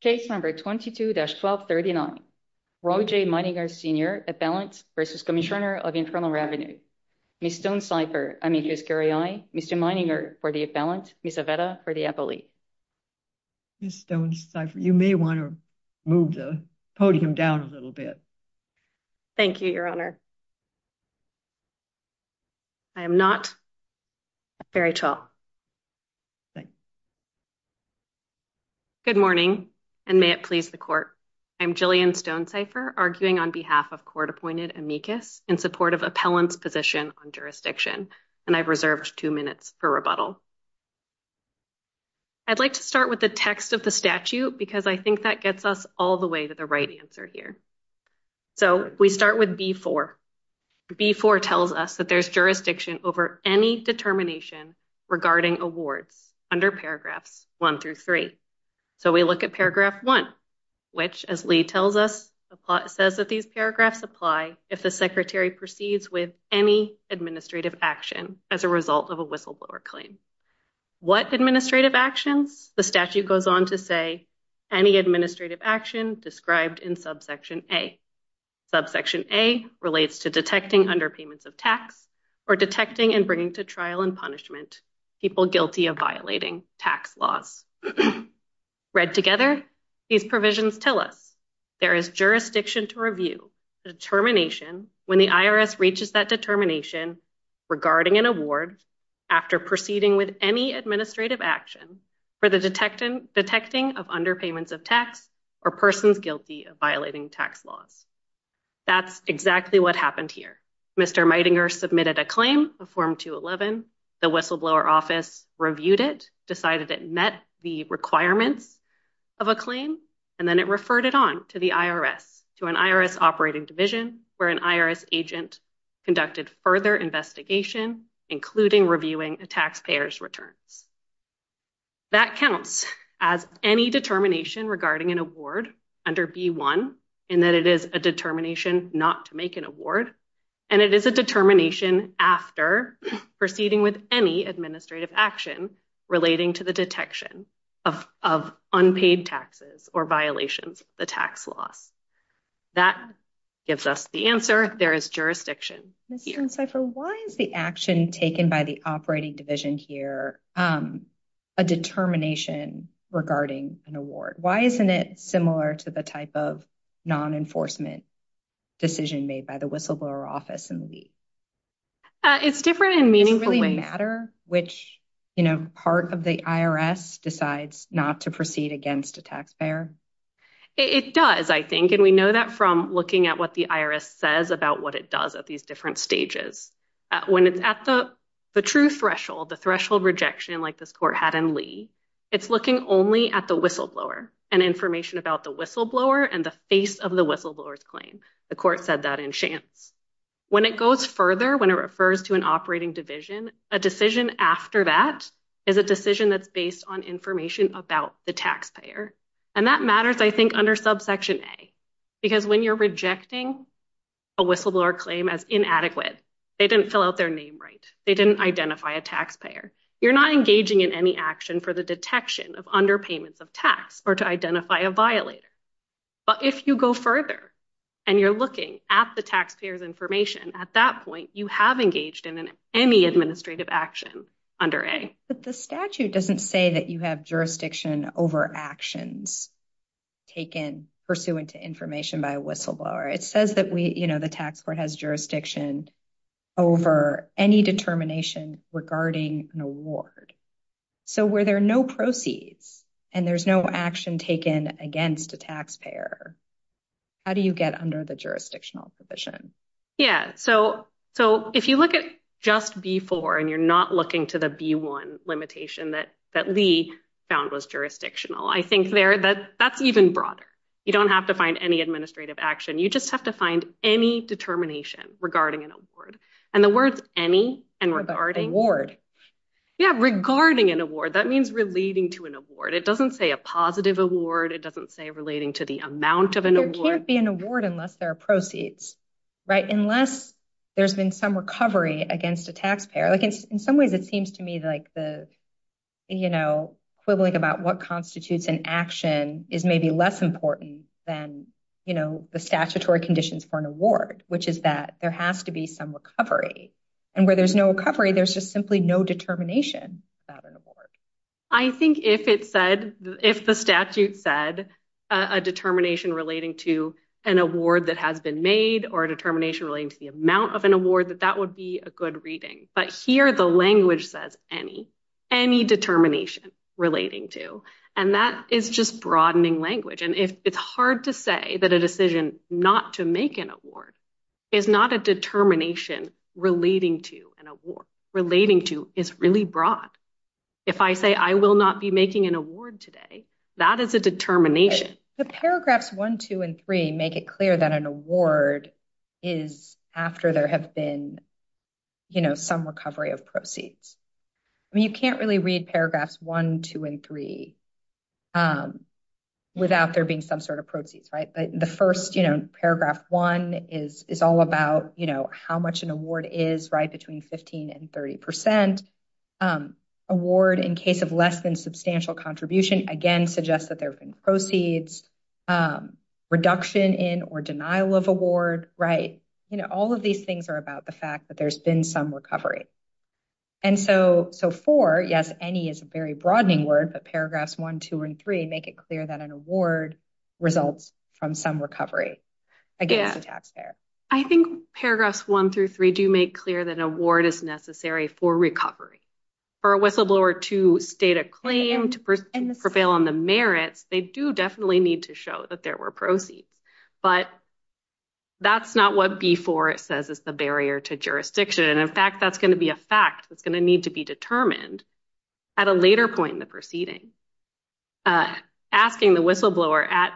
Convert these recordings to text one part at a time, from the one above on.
Case number 22-1239. Roger Meidinger Sr. Appellant v. Cmsnr of Internal Revenue. Ms. Stone-Seifer, I mean Ms. Gariai, Mr. Meidinger for the appellant, Ms. Avetta for the appellee. Ms. Stone-Seifer, you may want to move the podium down a little bit. Thank you, Your Honor. I am not very tall. Good morning, and may it please the court. I'm Jillian Stone-Seifer, arguing on behalf of court-appointed amicus in support of appellant's position on jurisdiction, and I've reserved two minutes for rebuttal. I'd like to start with the text of the statute because I think that gets us all the way to the right answer here. So we start with B-4. B-4 tells us that there's jurisdiction over any determination regarding awards under paragraphs 1-3. So we look at paragraph 1, which, as Lee tells us, says that these paragraphs apply if the secretary proceeds with any administrative action as a result of a whistleblower claim. What administrative actions? The statute goes on to say any administrative action described in subsection A. Subsection A relates to detecting underpayments of tax or detecting and bringing to trial and punishment people guilty of violating tax laws. Read together, these provisions tell us there is jurisdiction to review the determination when the IRS reaches that determination regarding an award after proceeding with any administrative action for the detecting of underpayments of tax or persons guilty of violating tax laws. That's exactly what happened here. Mr. Meitinger submitted a claim of Form 211. The whistleblower office reviewed it, decided it met the requirements of a claim, and then it referred it on to the IRS, to an IRS operating division where an IRS agent conducted further investigation, including reviewing a taxpayer's returns. That counts as any determination regarding an award under B-1 in that it is a determination not to make an award, and it is a determination after proceeding with any administrative action relating to the detection of unpaid taxes or violations of the tax laws. That gives us the answer. There is jurisdiction. Ms. Schencyfer, why is the action taken by the operating division here a determination regarding an award? Why isn't it similar to the type of non-enforcement decision made by the whistleblower office in the league? It's different in meaningful ways. Does it really matter which part of the IRS decides not to proceed against a taxpayer? It does, I think, and we know that from looking at what the IRS says about what it does at these different stages. When it's at the true threshold, the threshold the whistleblower and the face of the whistleblower's claim. The court said that in chance. When it goes further, when it refers to an operating division, a decision after that is a decision that's based on information about the taxpayer, and that matters, I think, under subsection A, because when you're rejecting a whistleblower claim as inadequate, they didn't fill out their name right. They didn't identify a taxpayer. You're not engaging in any action for the detection of underpayments of tax or to identify a violator, but if you go further and you're looking at the taxpayer's information at that point, you have engaged in any administrative action under A. But the statute doesn't say that you have jurisdiction over actions taken pursuant to information by a whistleblower. It says that we, you know, the tax court has jurisdiction over any determination regarding an award. So where there are no proceeds and there's no action taken against a taxpayer, how do you get under the jurisdictional provision? Yeah, so if you look at just B-4 and you're not looking to the B-1 limitation that Lee found was jurisdictional, I think there that that's even broader. You don't have to find any administrative action. You just have to find any determination regarding an award. And the words any and regarding award. Yeah, regarding an award. That means relating to an award. It doesn't say a positive award. It doesn't say relating to the amount of an award. There can't be an award unless there are proceeds, right? Unless there's been some recovery against a taxpayer. Like in some ways, it seems to me like the, you know, quibbling about what constitutes an action is maybe less important than, you know, the statutory conditions for an award, which is that there has to be some recovery. And where there's no recovery, there's just simply no determination about an award. I think if it said, if the statute said a determination relating to an award that has been made or a determination relating to the amount of an award, that that would be a good reading. But here the language says any, any determination relating to. And that is just broadening language. And if it's hard to say that a decision not to make an award is not a determination relating to an award. Relating to is really broad. If I say I will not be making an award today, that is a determination. The paragraphs one, two, and three, make it clear that an award is after there have been, you know, some recovery of proceeds. I mean, you can't really read paragraphs one, two, and three without there being some sort of proceeds, right? The first, you know, paragraph one is all about, you know, how much an award is, right, between 15 and 30 percent. Award in case of less than substantial contribution, again, suggests that there have been proceeds. Reduction in or denial of award, right? You know, all of these things are about the fact that there's been some recovery. And so, so for, yes, any is a very broadening word, but paragraphs one, two, and three make it clear that an award results from some recovery against the taxpayer. I think paragraphs one through three do make clear that an award is necessary for recovery. For a whistleblower to state a claim, to prevail on the merits, they do definitely need to show that there were proceeds. But that's not what before it says is the barrier to jurisdiction. And in fact, that's going to be a fact that's going to need to be determined at a later point in the proceeding. Asking the whistleblower at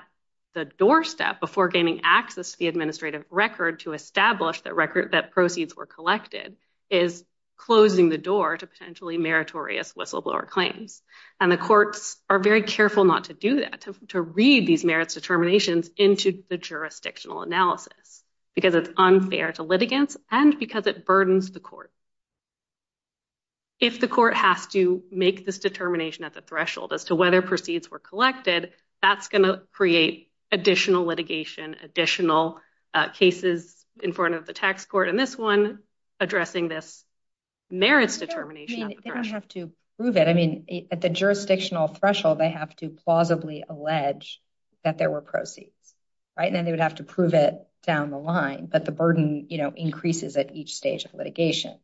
the doorstep before gaining access to the administrative record to establish the record that proceeds were collected is closing the door to potentially meritorious whistleblower claims. And the courts are very careful not to do that, to read these merits determinations into the jurisdictional analysis because it's unfair to litigants and because it burdens the court. If the court has to make this determination at the threshold as to whether proceeds were collected, that's going to create additional litigation, additional cases in front of the tax court, and this one addressing this merits determination. They don't have to prove it. I mean, at the jurisdictional threshold, they have to plausibly allege that there were proceeds, right? And then they would have to prove it down the line, but the burden, you know, increases at each stage of litigation.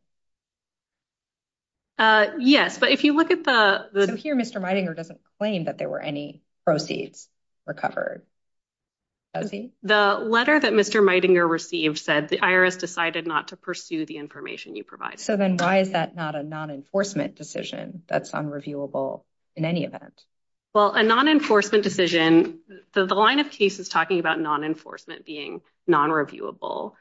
Yes, but if you look at the... So here Mr. Meidinger doesn't claim that there were any proceeds recovered. The letter that Mr. Meidinger received said the IRS decided not to pursue the information you provided. So then why is that not a non-enforcement decision that's unreviewable in any event? Well, a non-enforcement decision, the line of cases talking about non-enforcement being non-reviewable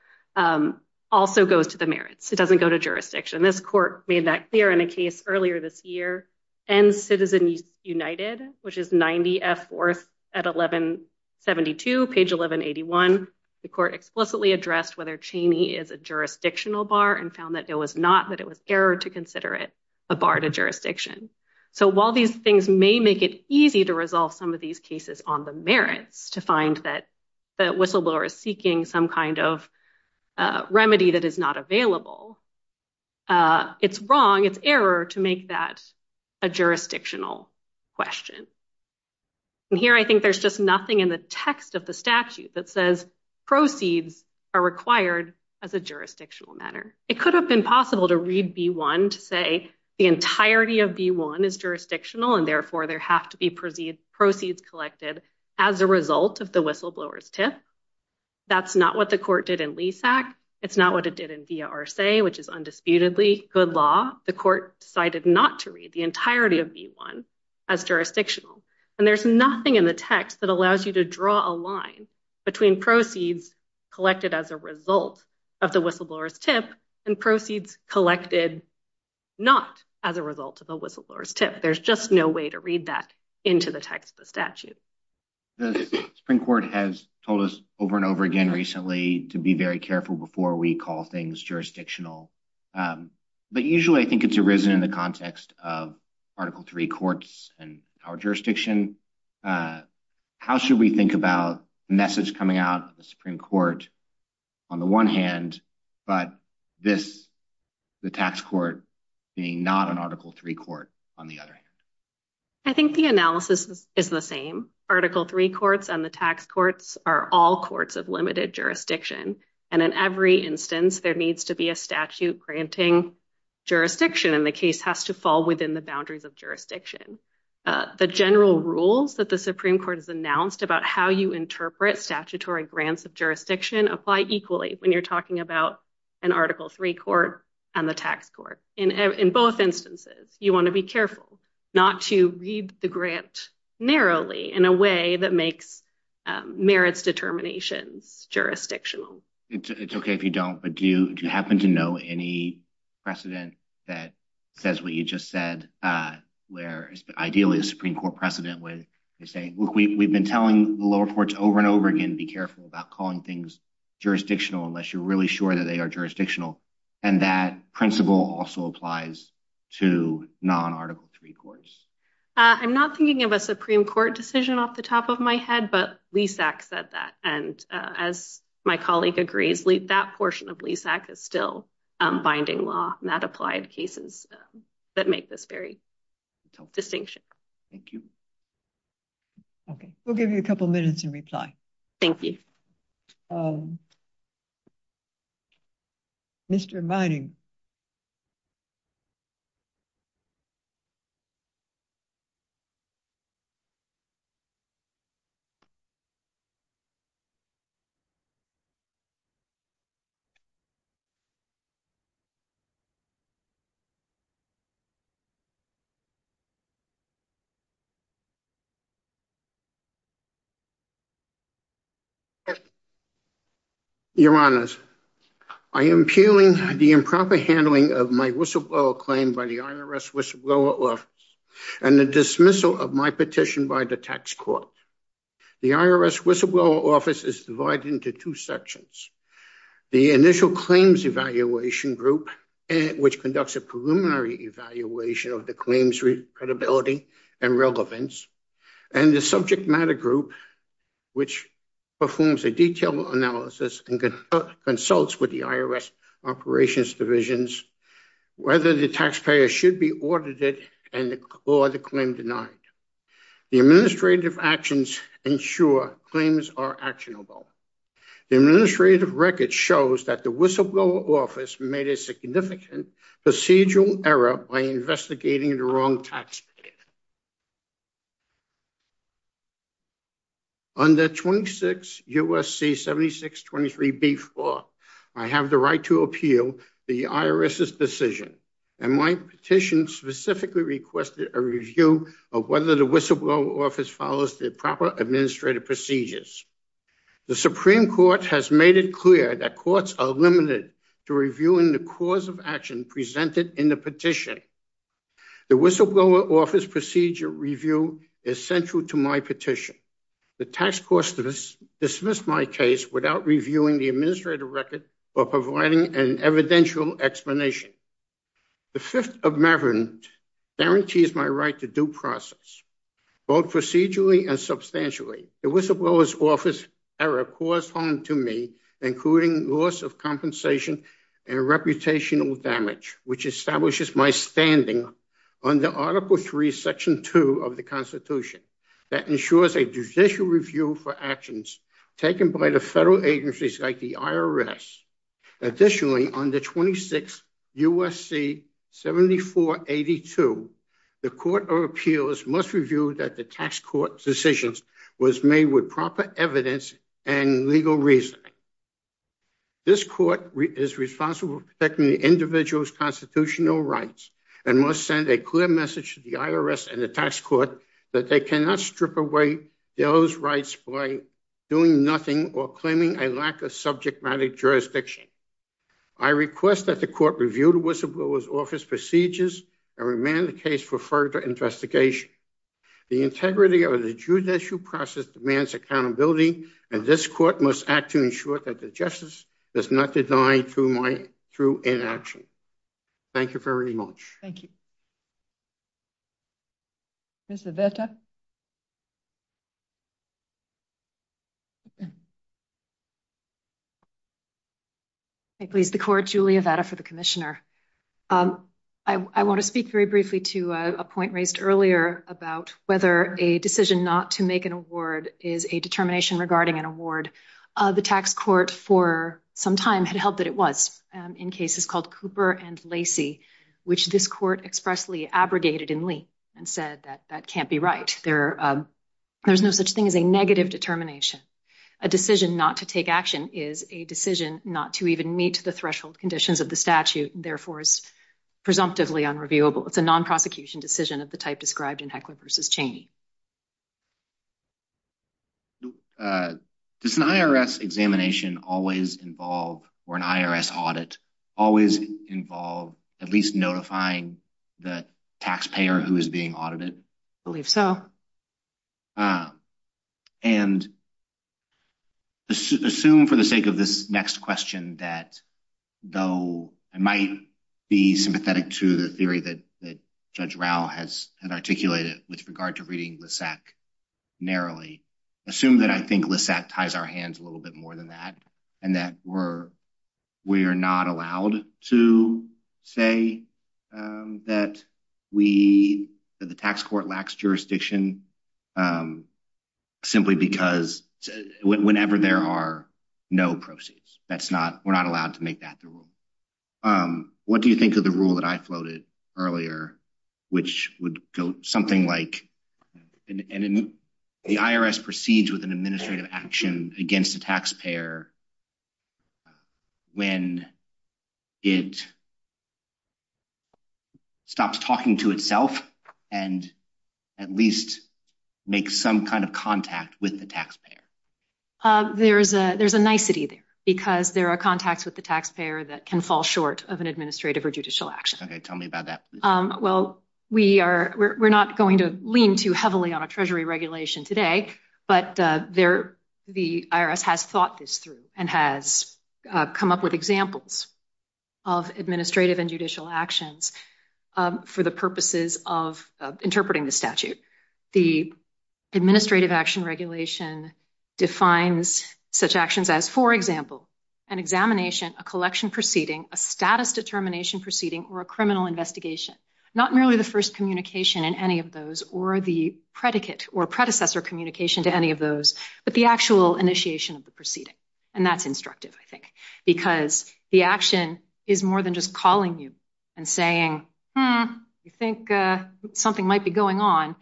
also goes to the merits. It doesn't go to jurisdiction. This court made that clear in a case earlier this year and Citizens United, which is 90F 4th at 1172, page 1181. The court explicitly addressed whether Cheney is a jurisdictional bar and found that it was not, that it was error to consider it a bar to jurisdiction. So while these things may make it easy to resolve some of these cases on the merits to find that the whistleblower is seeking some kind of remedy that is not available, it's wrong, it's error to make that a jurisdictional question. And here I think there's just nothing in the text of the statute that says proceeds are required as a jurisdictional matter. It could have been possible to read B-1 to say the entirety of B-1 is jurisdictional and therefore there have to be proceeds collected as a result of the whistleblower's tip. That's not what the court did in Lease Act. It's not what it did in VRSA, which is undisputedly good law. The court decided not to read the entirety of B-1 as jurisdictional and there's nothing in the text that allows you to draw a line between proceeds collected as a result of the whistleblower's tip and proceeds collected not as a result of the whistleblower's tip. There's just no way to read that into the text of the statute. The Supreme Court has told us over and over again recently to be very careful before we call things jurisdictional. But usually I think it's arisen in the context of Article III courts and our jurisdiction. How should we think about the message coming out of the Supreme Court on the one hand, but this, the tax court, being not an Article III court on the other hand? I think the analysis is the same. Article III courts and the tax courts are all courts of limited jurisdiction. And in every instance there needs to be a statute granting jurisdiction and the case has to fall within the boundaries of jurisdiction. The general rules that the Supreme Court has announced about how you interpret statutory grants of jurisdiction apply equally when you're talking about an Article III court and the tax court. In both instances you want to be careful not to read the grant narrowly in a way that makes merits determinations jurisdictional. It's okay if you don't, but do you happen to know any precedent that says what you just said, where ideally a Supreme Court precedent would say, look, we've been telling the lower courts over and over again, be careful about calling things jurisdictional unless you're really sure that they are jurisdictional. And that principle also applies to non-Article III courts. I'm not thinking of a Supreme Court decision off the top of my head, but LESAC said that. And as my colleague agrees, that portion of LESAC is still binding law and that applied cases that make this very distinction. Thank you. Okay, we'll give you a couple minutes and reply. Thank you. Mr. Vining. Your Honors, I am appealing the improper handling of my whistleblower claim by the IRS whistleblower office and the dismissal of my petition by the tax court. The IRS whistleblower office is divided into two sections, the initial claims evaluation group, which conducts a preliminary evaluation of the claims credibility and relevance, and the subject matter group, which performs a detailed analysis and consults with the IRS operations divisions, whether the taxpayer should be audited and or the claim denied. The administrative actions ensure claims are actionable. The administrative record shows that the whistleblower office made a significant procedural error by investigating the wrong taxpayer. Under 26 U.S.C. 7623B4, I have the right to appeal the IRS's decision and my petition specifically requested a review of whether the whistleblower office follows the proper administrative procedures. The Supreme Court has made it clear that courts are limited to reviewing the cause of action presented in the petition. The whistleblower office procedure review is central to my petition. The tax court dismissed my case without reviewing the record or providing an evidential explanation. The Fifth Amendment guarantees my right to due process, both procedurally and substantially. The whistleblower's office error caused harm to me, including loss of compensation and reputational damage, which establishes my standing under Article III, Section 2 of the Constitution that ensures a judicial review for actions taken by the federal agencies like the IRS. Additionally, under 26 U.S.C. 7482, the Court of Appeals must review that the tax court's decision was made with proper evidence and legal reasoning. This court is responsible for protecting the individual's constitutional rights and must send a clear message to the IRS and the tax court that they cannot strip away those rights by doing nothing or claiming a lack of subject matter jurisdiction. I request that the court review the whistleblower's office procedures and remand the case for further investigation. The integrity of the judicial process demands accountability and this court must act to ensure that the justice is not denied through inaction. Thank you very much. Thank you. Ms. Aveta? Thank you, please. The court, Julia Aveta for the Commissioner. I want to speak very briefly to a point raised earlier about whether a decision not to make an award is a determination regarding an award. The tax court for some time had held that it was in cases called Cooper and Lacey, which this court expressly abrogated in Lee and said that that can't be right. There's no such thing as a negative determination. A decision not to take action is a decision not to even meet the threshold conditions of the statute and therefore is presumptively unreviewable. It's a non-prosecution decision of the type described in Heckler v. Cheney. Does an IRS examination always involve, or an IRS audit always involve at least notifying the taxpayer who is being audited? I believe so. And assume for the sake of this next question that though I might be sympathetic to the theory that that Judge Rao has articulated with regard to reading LISAC narrowly, assume that I think LISAC ties our hands a little bit more than that and that we're not allowed to say that the tax court lacks jurisdiction simply because whenever there are no proceeds. We're not allowed to make that the rule. What do you think of the rule that I floated earlier, which would go something like and the IRS proceeds with an administrative action against the taxpayer when it stops talking to itself and at least make some kind of contact with the taxpayer? There's a nicety there because there are contacts with the taxpayer that can fall short of an heavily on a treasury regulation today, but the IRS has thought this through and has come up with examples of administrative and judicial actions for the purposes of interpreting the statute. The administrative action regulation defines such actions as, for example, an examination, a collection proceeding, a status determination proceeding, or a criminal investigation. Not merely the first communication in any of those or the predicate or predecessor communication to any of those, but the actual initiation of the proceeding. And that's instructive, I think, because the action is more than just calling you and saying, you think something might be going on.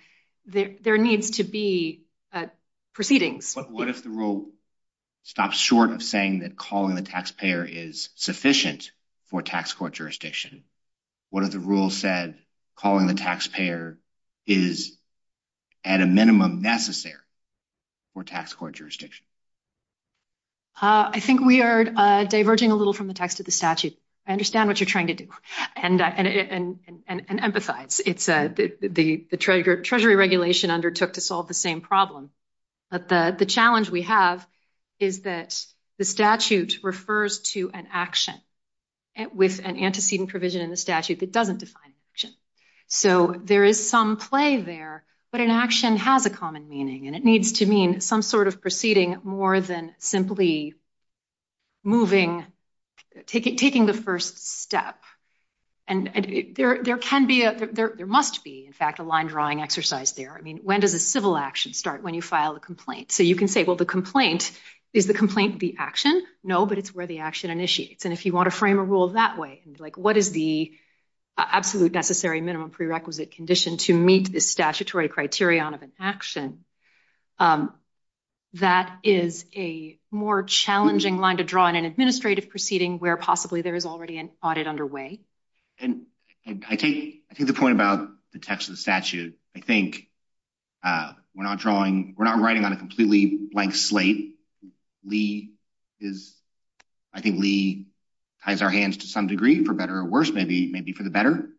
There needs to be proceedings. But what if the rule stops short of saying that calling the taxpayer is sufficient for tax court jurisdiction? What if the rule said calling the taxpayer is at a minimum necessary for tax court jurisdiction? I think we are diverging a little from the text of the statute. I understand what you're trying to do and empathize. It's the treasury regulation undertook to solve the same problem, but the challenge we have is that the statute refers to an action with an antecedent provision in the statute that doesn't define action. So there is some play there, but an action has a common meaning, and it needs to mean some sort of proceeding more than simply moving, taking the first step. And there must be, in fact, a line drawing exercise there. I mean, when does a civil action start? When you file a complaint. So you can say, well, the complaint, is the complaint the action? No, but it's where the action initiates. And if you want to frame a rule that way, like what is the absolute necessary minimum prerequisite condition to meet the statutory criterion of an action, that is a more challenging line to draw in an administrative proceeding where possibly there is already an audit underway. And I take the point about the text of the statute. I think we're not drawing, we're not writing on a completely blank slate. Lee is, I think Lee ties our hands to some degree, for better or worse, maybe for the better.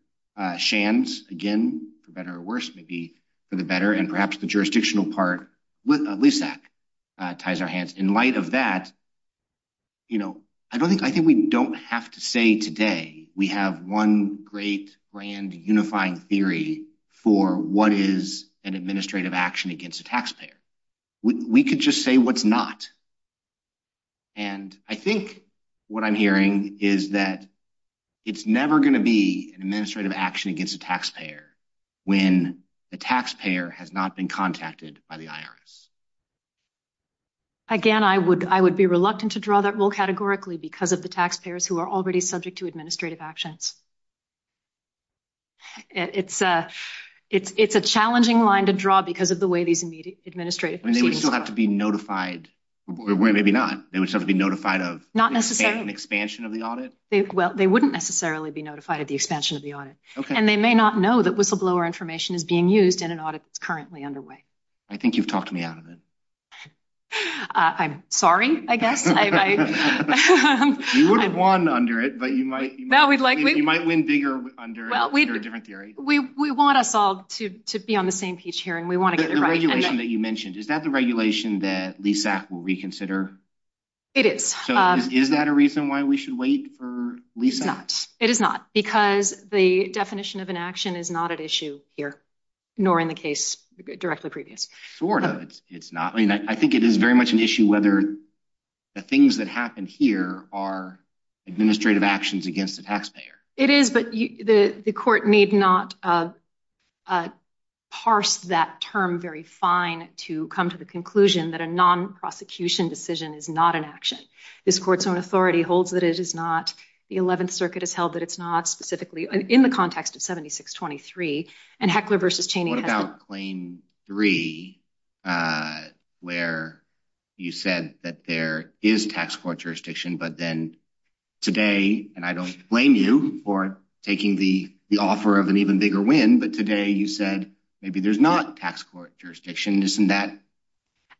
Shands, again, for better or worse, maybe for the better. And perhaps the jurisdictional part, LISAC ties our hands. In light of that, you know, I don't think, I think we don't have to say today we have one great, grand, unifying theory for what is an administrative action against a taxpayer. We could just say what's not. And I think what I'm hearing is that it's never going to be an administrative action against a taxpayer when the taxpayer has not been contacted by the IRS. Again, I would, I would be reluctant to draw that rule categorically because of the taxpayers who are already subject to administrative actions. It's a, it's a challenging line to draw because of the way these administrative proceedings are. And they would still have to be notified, maybe not, they would still have to be notified of an expansion of the audit? Well, they wouldn't necessarily be notified of the expansion of the audit. And they may not know that whistleblower information is being used in an audit that's currently underway. I think you've talked me out of it. I'm sorry, I guess. You would have won under it, but you might, you might win bigger under a different theory. We want us all to be on the same page here and we want to get it right. The regulation that you mentioned, is that the regulation that LESAC will reconsider? It is. So is that a reason why we should wait for LESAC? It is not, because the definition of an action is not at issue here, nor in the case directly previous. Sort of, it's not. I mean, I think it is very much an issue whether the things that happen here are administrative actions against the taxpayer. It is, but the court need not parse that term very fine to come to the conclusion that a non-prosecution decision is not an action. This court's own authority holds that it is not, the 11th circuit has held that it's not specifically, in the context of 7623, and Heckler versus Cheney. What about claim three, where you said that there is tax court jurisdiction, but then today, and I don't blame you for taking the offer of an even bigger win, but today you said maybe there's not tax court jurisdiction, isn't that?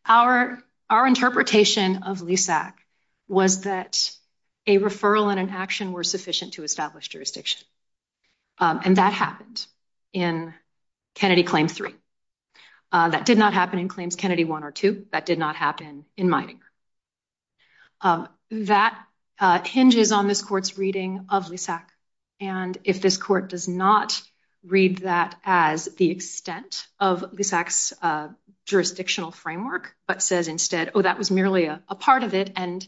Our interpretation of LESAC was that a referral and an action were sufficient to establish jurisdiction, and that happened in Kennedy claim three. That did not happen in claims Kennedy one or two, that did not happen in Meininger. That hinges on this court's reading of LESAC, and if this court does not read that as the extent of LESAC's jurisdictional framework, but says instead, oh, that was merely a part of it, and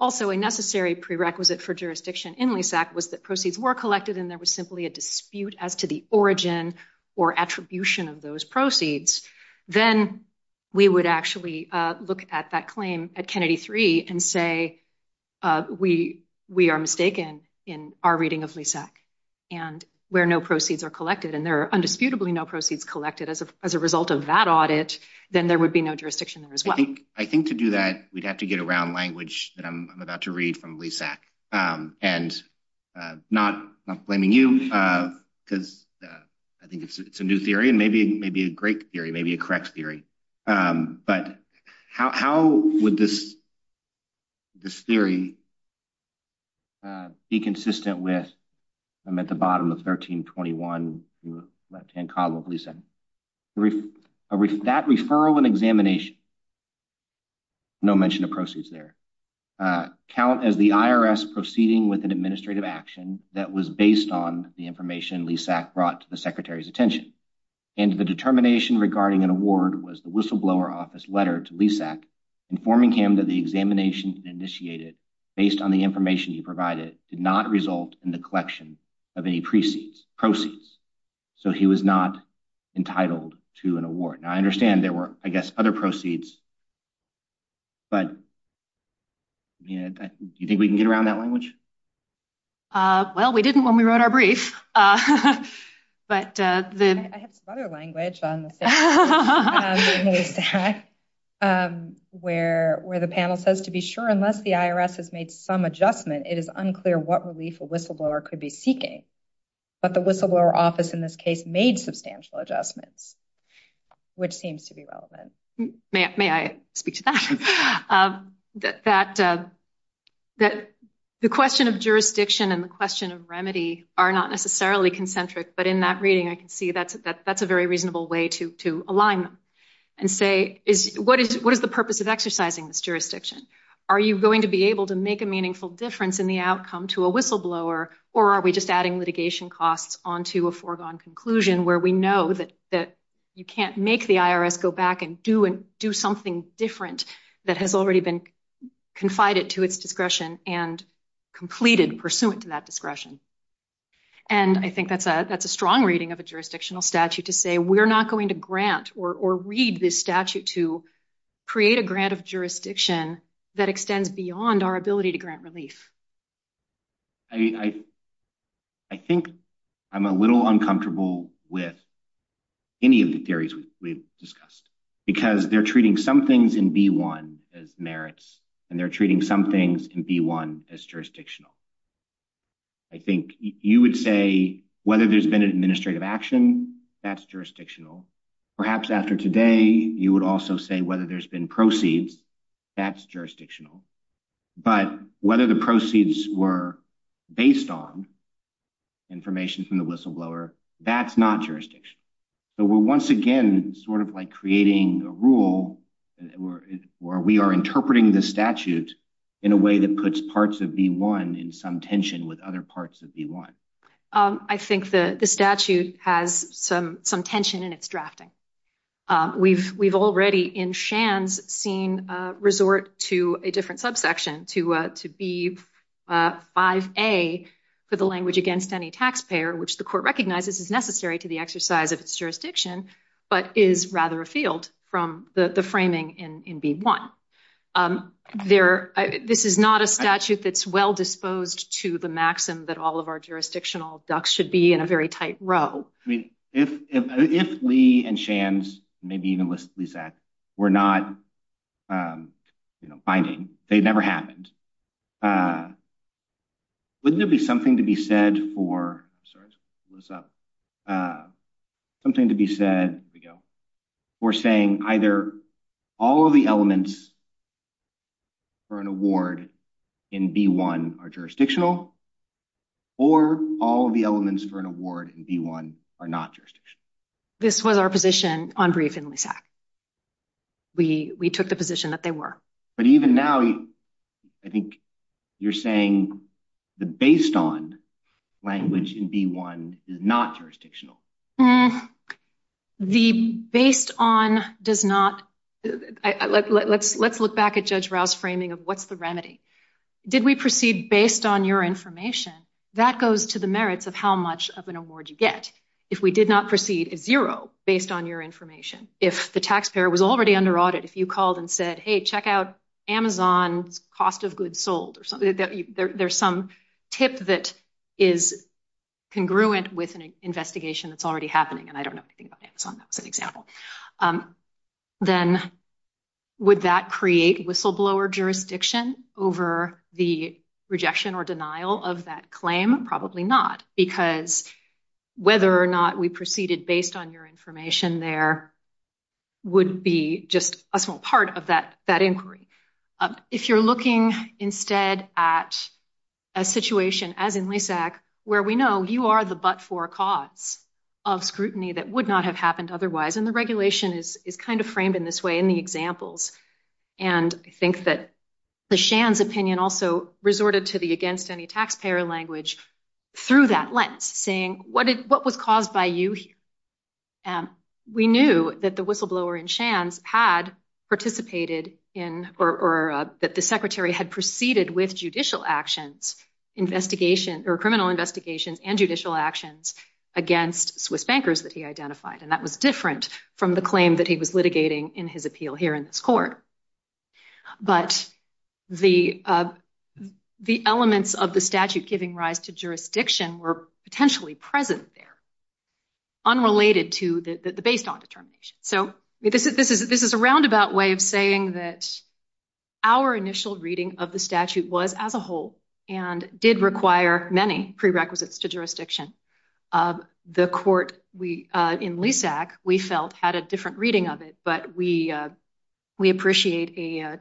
also a necessary prerequisite for jurisdiction in LESAC was that proceeds were collected and there was simply a dispute as to the origin or attribution of those proceeds, then we would actually look at that claim at Kennedy three and say, we are mistaken in our reading of LESAC, and where no proceeds are collected, and there are indisputably no proceeds collected as a result of that audit, then there would be no jurisdiction there as well. I think to do that, we'd have to get around language that I'm about to read from LESAC, and not blaming you, because I think it's a new theory, and maybe a great theory, maybe a correct theory, but how would this theory be consistent with, I'm at the bottom of 1321, left-hand column of LESAC. That referral and examination, no mention of proceeds there, count as the IRS proceeding with an administrative action that was based on the information LESAC brought to the Secretary's attention, and the determination regarding an award was the whistleblower office letter to LESAC informing him that the examination initiated based on the information he provided did not the collection of any proceeds, so he was not entitled to an award. Now, I understand there were, I guess, other proceeds, but do you think we can get around that language? Well, we didn't when we wrote our brief, but the... I have some other language on the LESAC where the panel says, to be sure, unless the IRS has made some adjustment, it is unclear what relief a whistleblower could be seeking, but the whistleblower office in this case made substantial adjustments, which seems to be relevant. May I speak to that? That the question of jurisdiction and the question of remedy are not necessarily concentric, but in that reading, I can see that's a very reasonable way to align them, and say, what is the purpose of exercising this jurisdiction? Are you going to be able to make a meaningful difference in the outcome to a whistleblower, or are we just adding litigation costs on to a foregone conclusion where we know that you can't make the IRS go back and do something different that has already been confided to its discretion and completed pursuant to that discretion? And I think that's a strong reading of a jurisdictional statute to say we're not going to grant or read this statute to create a grant of jurisdiction that extends beyond our ability to grant relief. I think I'm a little uncomfortable with any of the theories we've discussed, because they're treating some things in B-1 as merits, and they're treating some things in B-1 as jurisdictional. I think you would say whether there's been an administrative action, that's jurisdictional. Perhaps after today, you would also say whether there's been proceeds, that's jurisdictional. But whether the proceeds were based on information from the whistleblower, that's not jurisdictional. So we're once again sort of like creating a rule where we are interpreting the statute in a way that puts parts of B-1 in some tension with other parts of B-1. I think the statute has some tension in its drafting. We've already, in Shand's scene, resort to a different subsection, to B-5A, for the language against any taxpayer, which the court recognizes is necessary to the exercise of its jurisdiction, but is rather a field from the framing in B-1. This is not a statute that's well disposed to the maxim that all of our jurisdictional ducts should be in a very tight row. If Lee and Shand, maybe even Lizette, were not binding, they never happened, wouldn't it be something to be said for, something to be said for saying either all of the elements for an award in B-1 are jurisdictional, or all of the elements for an award in B-1 are not jurisdictional. This was our position on brief in LISAC. We took the position that they were. But even now, I think you're saying the based on language in B-1 is not jurisdictional. The based on does not, let's look back at Judge Rouse's framing of what's the remedy. Did we proceed based on your information? That goes to the merits of how much of an award you get. If we did not proceed at zero based on your information, if the taxpayer was already under audit, if you called and said, hey, check out Amazon's cost of goods sold, there's some tip that is congruent with an investigation that's already happening, and I don't know anything about Amazon, that was an rejection or denial of that claim, probably not, because whether or not we proceeded based on your information there would be just a small part of that inquiry. If you're looking instead at a situation as in LISAC where we know you are the but-for cause of scrutiny that would not have happened otherwise, and the regulation is kind of framed in this way in the examples, and I think that the Shands opinion also resorted to the against any taxpayer language through that lens, saying what was caused by you here? We knew that the whistleblower in Shands had participated in, or that the secretary had proceeded with judicial actions, investigation, or criminal investigations and judicial actions against Swiss bankers that he identified, and that was different from the claim that he was litigating in his appeal here in this court. But the elements of the statute giving rise to jurisdiction were potentially present there, unrelated to the based on determination. So this is a roundabout way of saying that our initial reading of the statute was as a whole, and did require many prerequisites to jurisdiction. The court in LISAC, we felt, had a different reading of it, but we appreciate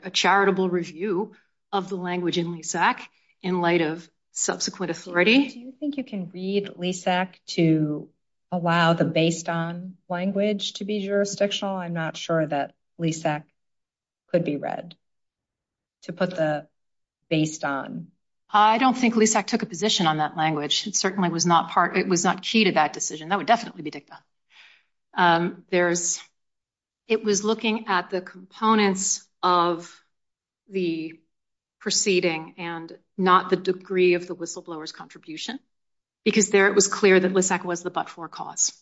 a charitable review of the language in LISAC in light of subsequent authority. Do you think you can read LISAC to allow the based on language to be jurisdictional? I'm not sure that LISAC could be read to put the based on. I don't think LISAC took a position on that certainly was not key to that decision. That would definitely be dicta. It was looking at the components of the proceeding and not the degree of the whistleblower's contribution, because there it was clear that LISAC was the but-for cause.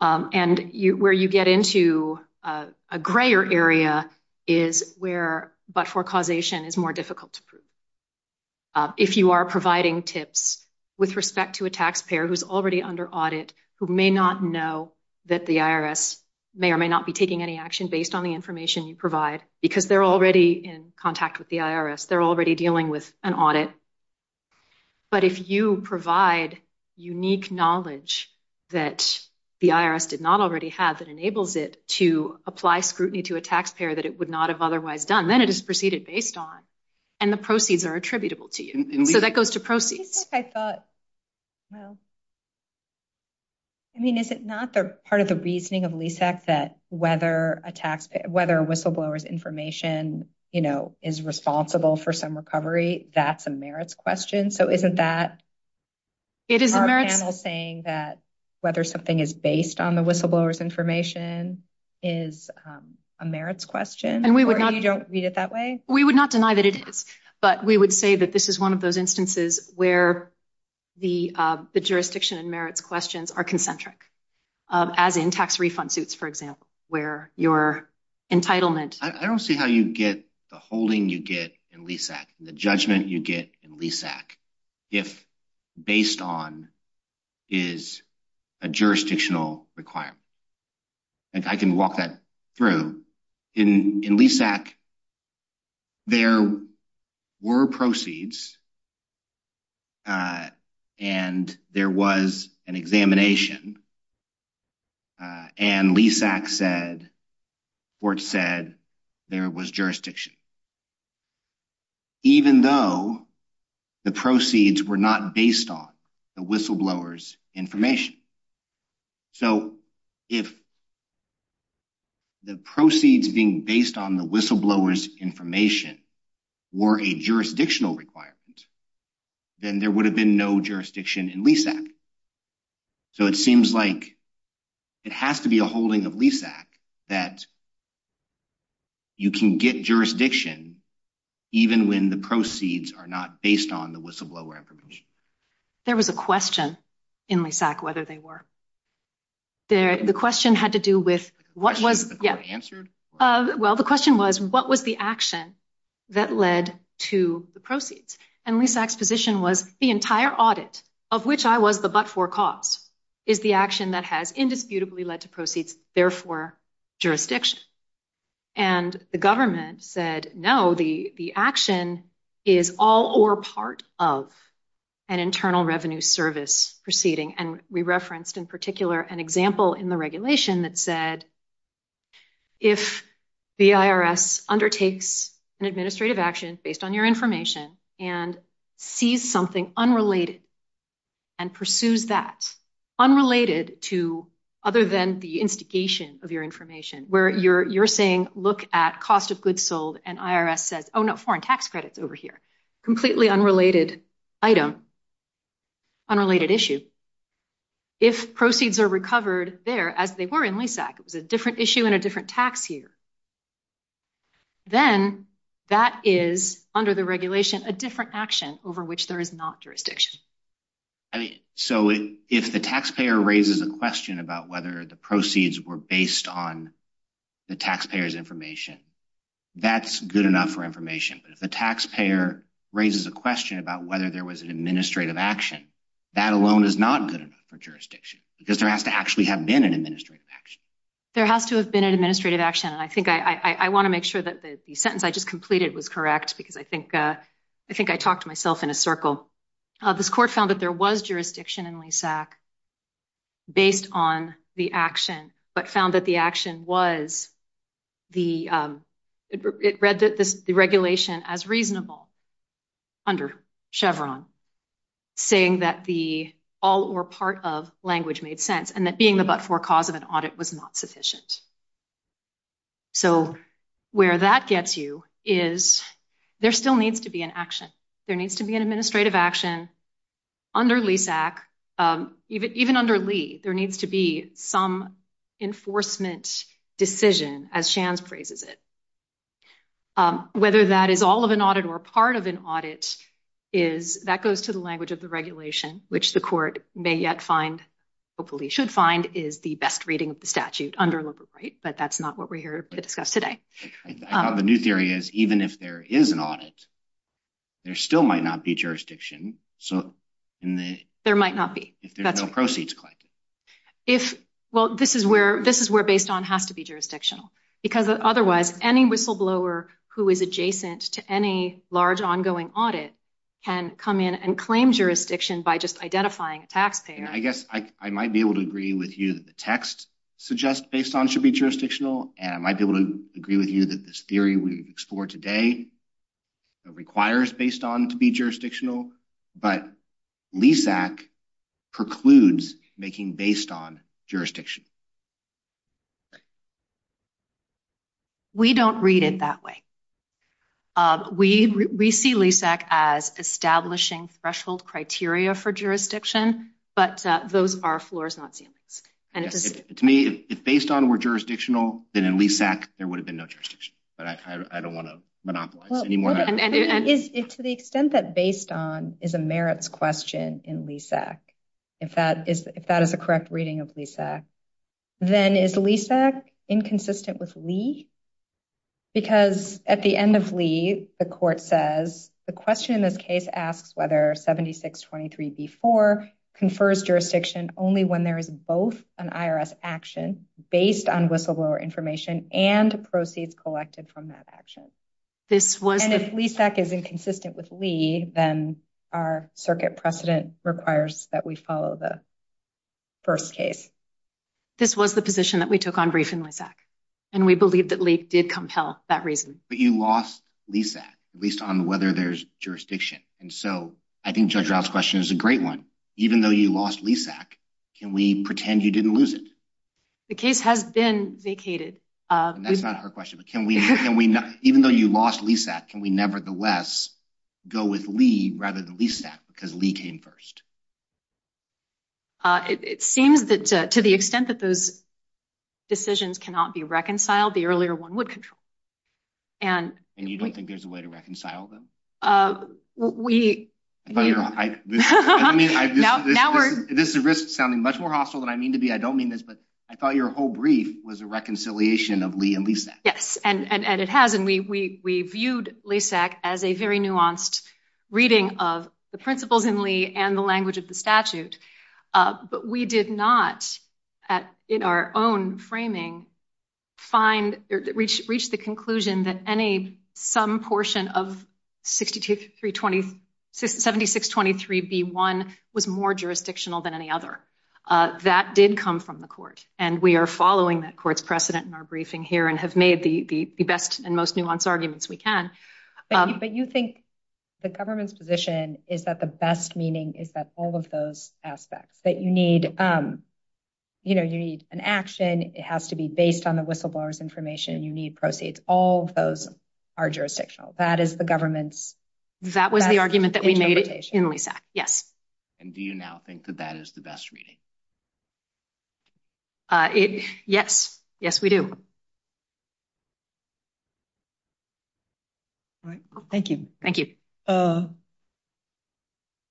And where you get into a grayer area is where but-for causation is more difficult to prove. If you are providing tips with respect to a taxpayer who is already under audit, who may not know that the IRS may or may not be taking any action based on the information you provide, because they're already in contact with the IRS, they're already dealing with an audit, but if you provide unique knowledge that the IRS did not already have that enables it to apply scrutiny to a taxpayer that it would not have otherwise done, then it is proceeded based on, and the proceeds are attributable to you. So that goes to proceeds. Is it not part of the reasoning of LISAC that whether a whistleblower's information is responsible for some recovery, that's a merits question? So isn't that our panel saying that whether something is based on the whistleblower's information is a merits question, or you don't read it that way? We would not deny that it is, but we would say that this is one of those instances where the jurisdiction and merits questions are concentric, as in tax refund suits, for example, where your entitlement. I don't see how you get the holding you get in LISAC, the judgment you get in LISAC, if based on is a jurisdictional requirement. I can walk that through. In LISAC, there were proceeds and there was an examination, and LISAC said, Fort said, there was jurisdiction, even though the proceeds were not based on the whistleblower's information. So if the proceeds being based on the whistleblower's information were a jurisdictional requirement, then there would have been no jurisdiction in LISAC. So it seems like it has to be a holding of LISAC that you can get jurisdiction even when the proceeds are not based on the whistleblower's information. There was a question in LISAC, whether they were. The question had to do with what was answered. Well, the question was, what was the action that led to the proceeds? And LISAC's position was the entire audit, of which I was the but-for cause, is the action that has led to proceeds, therefore, jurisdiction. And the government said, no, the action is all or part of an internal revenue service proceeding. And we referenced in particular an example in the regulation that said, if the IRS undertakes an administrative action based on your information and sees something unrelated and pursues that, unrelated to other than the instigation of your information, where you're saying, look at cost of goods sold, and IRS says, oh, no, foreign tax credit's over here. Completely unrelated item, unrelated issue. If proceeds are recovered there, as they were in LISAC, it was a different issue and a different tax year, then that is, under the regulation, a different action over which there is not jurisdiction. I mean, so if the taxpayer raises a question about whether the proceeds were based on the taxpayer's information, that's good enough for information. But if the taxpayer raises a question about whether there was an administrative action, that alone is not good enough for jurisdiction, because there has to actually have been an administrative action. There has to have been an administrative action, and I think I want to make sure that the sentence I just completed was correct, because I think I talked to myself in a circle. This court found that there was jurisdiction in LISAC based on the action, but found that the action was the, it read the regulation as reasonable under Chevron, saying that the all or part of language made sense, and that being the but-for cause of an audit was not sufficient. So, where that gets you is there still needs to be an action. There needs to be an administrative action under LISAC. Even under Lee, there needs to be some enforcement decision, as Shands praises it. Whether that is all of an audit or part of an audit is, that goes to the language of the regulation, which the court may yet find, hopefully should find, is the best reading of the statute under liberal right, but that's not what we're here to discuss today. The new theory is even if there is an audit, there still might not be jurisdiction. There might not be. If there's no proceeds collected. Well, this is where based on has to be jurisdictional, because otherwise, any whistleblower who is adjacent to any large ongoing audit can come in and claim jurisdiction by just identifying a taxpayer. I guess I might be able to agree with you that the text suggests based on should be jurisdictional, and I might be able to agree with you that this theory we explore today requires based on to be jurisdictional, but LISAC precludes making based on jurisdiction. We don't read it that way. We see LISAC as establishing threshold criteria for jurisdiction, but those are floors, not And to me, if based on were jurisdictional, then in LISAC, there would have been no jurisdiction, but I don't want to monopolize anymore. And to the extent that based on is a merits question in LISAC, if that is a correct reading of LISAC, then is LISAC inconsistent with Lee? Because at the end of Lee, the court says the question in this case asks whether 7623b4 confers jurisdiction only when there is both an IRS action based on whistleblower information and proceeds collected from that action. This was if LISAC is inconsistent with Lee, then our circuit precedent requires that we the first case. This was the position that we took on brief in LISAC, and we believe that Lee did compel that reason. But you lost LISAC, at least on whether there's jurisdiction. And so I think Judge Rout's question is a great one. Even though you lost LISAC, can we pretend you didn't lose it? The case has been vacated. That's not her question. But can we, even though you lost LISAC, can we nevertheless go with Lee rather than LISAC because Lee came first? It seems that to the extent that those decisions cannot be reconciled, the earlier one would control. And you don't think there's a way to reconcile them? This is risk sounding much more hostile than I mean to be. I don't mean this, but I thought your whole brief was a reconciliation of Lee and LISAC. Yes, and it has. And we viewed LISAC as a very nuanced reading of the principles in Lee and the language of the statute. But we did not, in our own framing, reach the conclusion that some portion of 7623B1 was more jurisdictional than any other. That did come from the court. And we are following that court's precedent in our briefing here and have made the best and most nuanced arguments we can. But you think the government's position is that the best meaning is that all of those aspects, that you need, you know, you need an action. It has to be based on the whistleblower's information and you need proceeds. All of those are jurisdictional. That is the government's best interpretation. That was the argument that we made in LISAC, yes. And do you now think that that is the best reading? Yes, yes, we do. All right. Thank you.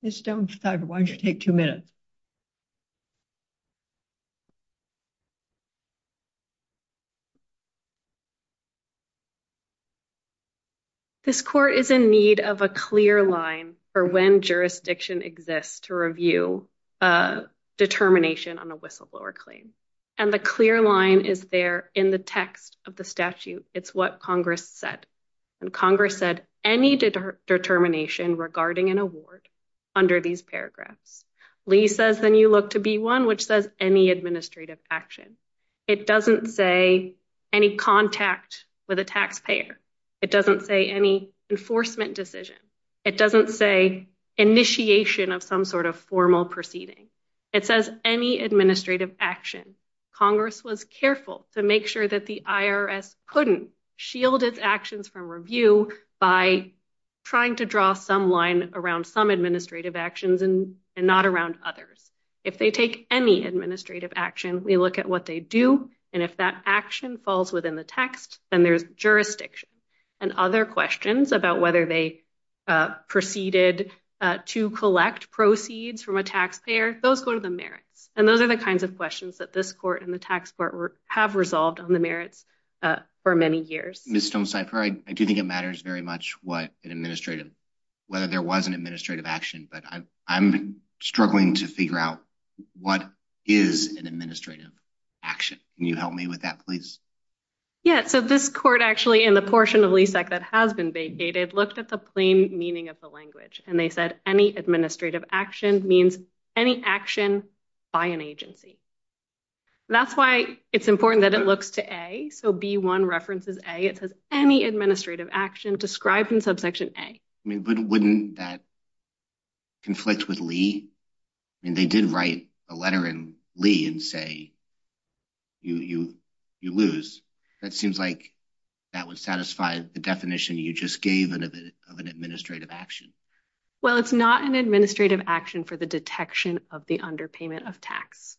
Ms. Stone, why don't you take two minutes? This court is in need of a clear line for when jurisdiction exists to review a determination on a whistleblower claim. And the clear line is there in the text of the statute. It's what Congress said. And Congress said any determination regarding an award under these paragraphs. Lee says, then you look to B1, which says any administrative action. It doesn't say any contact with a taxpayer. It doesn't say any enforcement decision. It doesn't say initiation of some sort of formal proceeding. It says any administrative action. Congress was careful to make sure that the IRS couldn't shield its actions from review by trying to draw some line around some administrative actions and not around others. If they take any administrative action, we look at what they do. And if that action falls within the text, then there's jurisdiction. And other questions about whether they proceeded to collect proceeds from a taxpayer, those go to the merits. And those are the kinds of questions that this court and the tax court have resolved on the merits for many years. Ms. Stonecipher, I do think it matters very much what an administrative, whether there was an administrative action. But I'm struggling to figure out what is an administrative action. Can you help me with that, please? Yeah. So this court actually, in the portion of LESAC that has been vacated, looked at the plain meaning of the language. And they said any administrative action means any action by an agency. That's why it's important that it looks to A. So B1 references A. It says any administrative action described in subsection A. I mean, but wouldn't that conflict with Lee? I mean, they did write a letter in Lee and say, you lose. That seems like that would satisfy the definition you just gave of an administrative action. Well, it's not an administrative action for the detection of the underpayment of tax.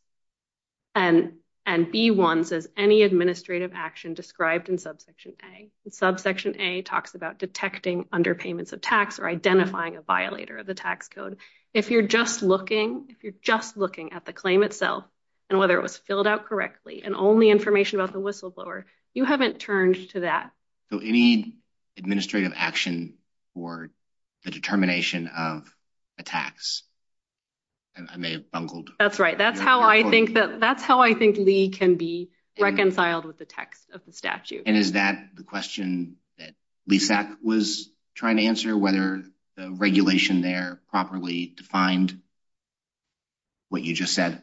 And B1 says any administrative action described in subsection A. Subsection A talks about detecting underpayments of tax or identifying a violator of the tax code. If you're just looking, if you're just looking at the claim itself and whether it was filled out correctly and only information about the whistleblower, you haven't turned to that. So any administrative action for the determination of a tax. I may have bungled. That's right. That's how I think that that's how I think Lee can be reconciled with the text of the statute. And is that the question that LESAC was trying to answer, whether the regulation there properly defined what you just said?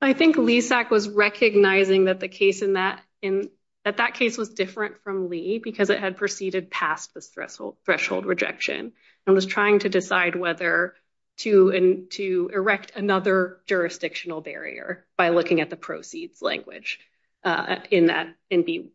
I think LESAC was recognizing that the case in that in that that case was different from Lee because it had proceeded past this threshold, threshold rejection and was trying to decide whether to to erect another jurisdictional barrier by looking at the proceeds language in that in B1.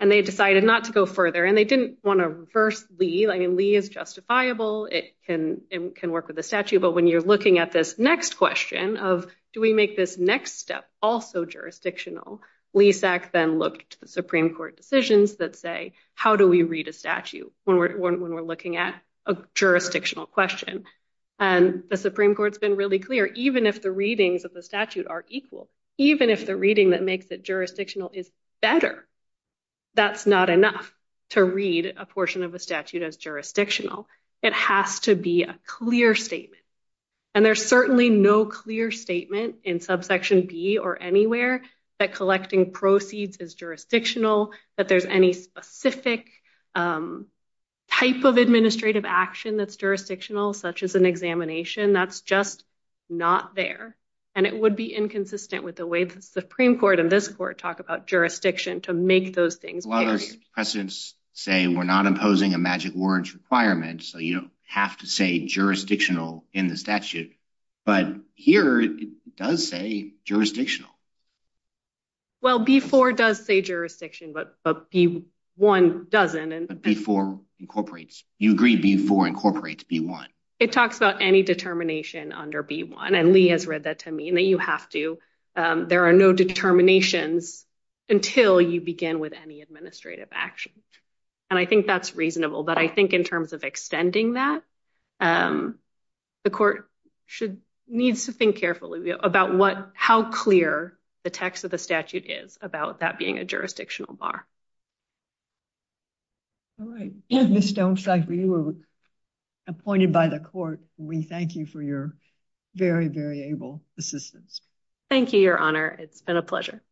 And they decided not to go further. And they didn't want to reverse Lee. I mean, Lee is justifiable. It can can work with the statute. But when you're looking at this next question of do we make this next step also jurisdictional, LESAC then looked to the Supreme Court decisions that say, how do we read a statute when we're looking at a jurisdictional question? And the Supreme Court's been really clear. Even if the readings of the statute are equal, even if the reading that makes it jurisdictional is better, that's not enough to read a portion of a statute as jurisdictional. It has to be a clear statement. And there's certainly no clear statement in subsection B or anywhere that collecting proceeds is jurisdictional, that there's any specific type of administrative action that's jurisdictional, such as an examination. That's just not there. And it would be inconsistent with the way the Supreme Court and this court talk about jurisdiction to make those things. Presidents say we're not imposing a magic words requirement. So you don't have to say jurisdictional in the statute. But here it does say jurisdictional. Well, before it does say jurisdiction, but B1 doesn't. And before incorporates, you agree before incorporates B1. It talks about any determination under B1. And Lee has read that to me and that you have to. There are no determinations until you begin with any administrative action. And I think that's reasonable. But I think in terms of extending that, the court needs to think carefully about how clear the text of the statute is about that being a jurisdictional bar. All right. Ms. Stonecipher, you were appointed by the court. We thank you for your very, very able assistance. Thank you, Your Honor. It's been a pleasure.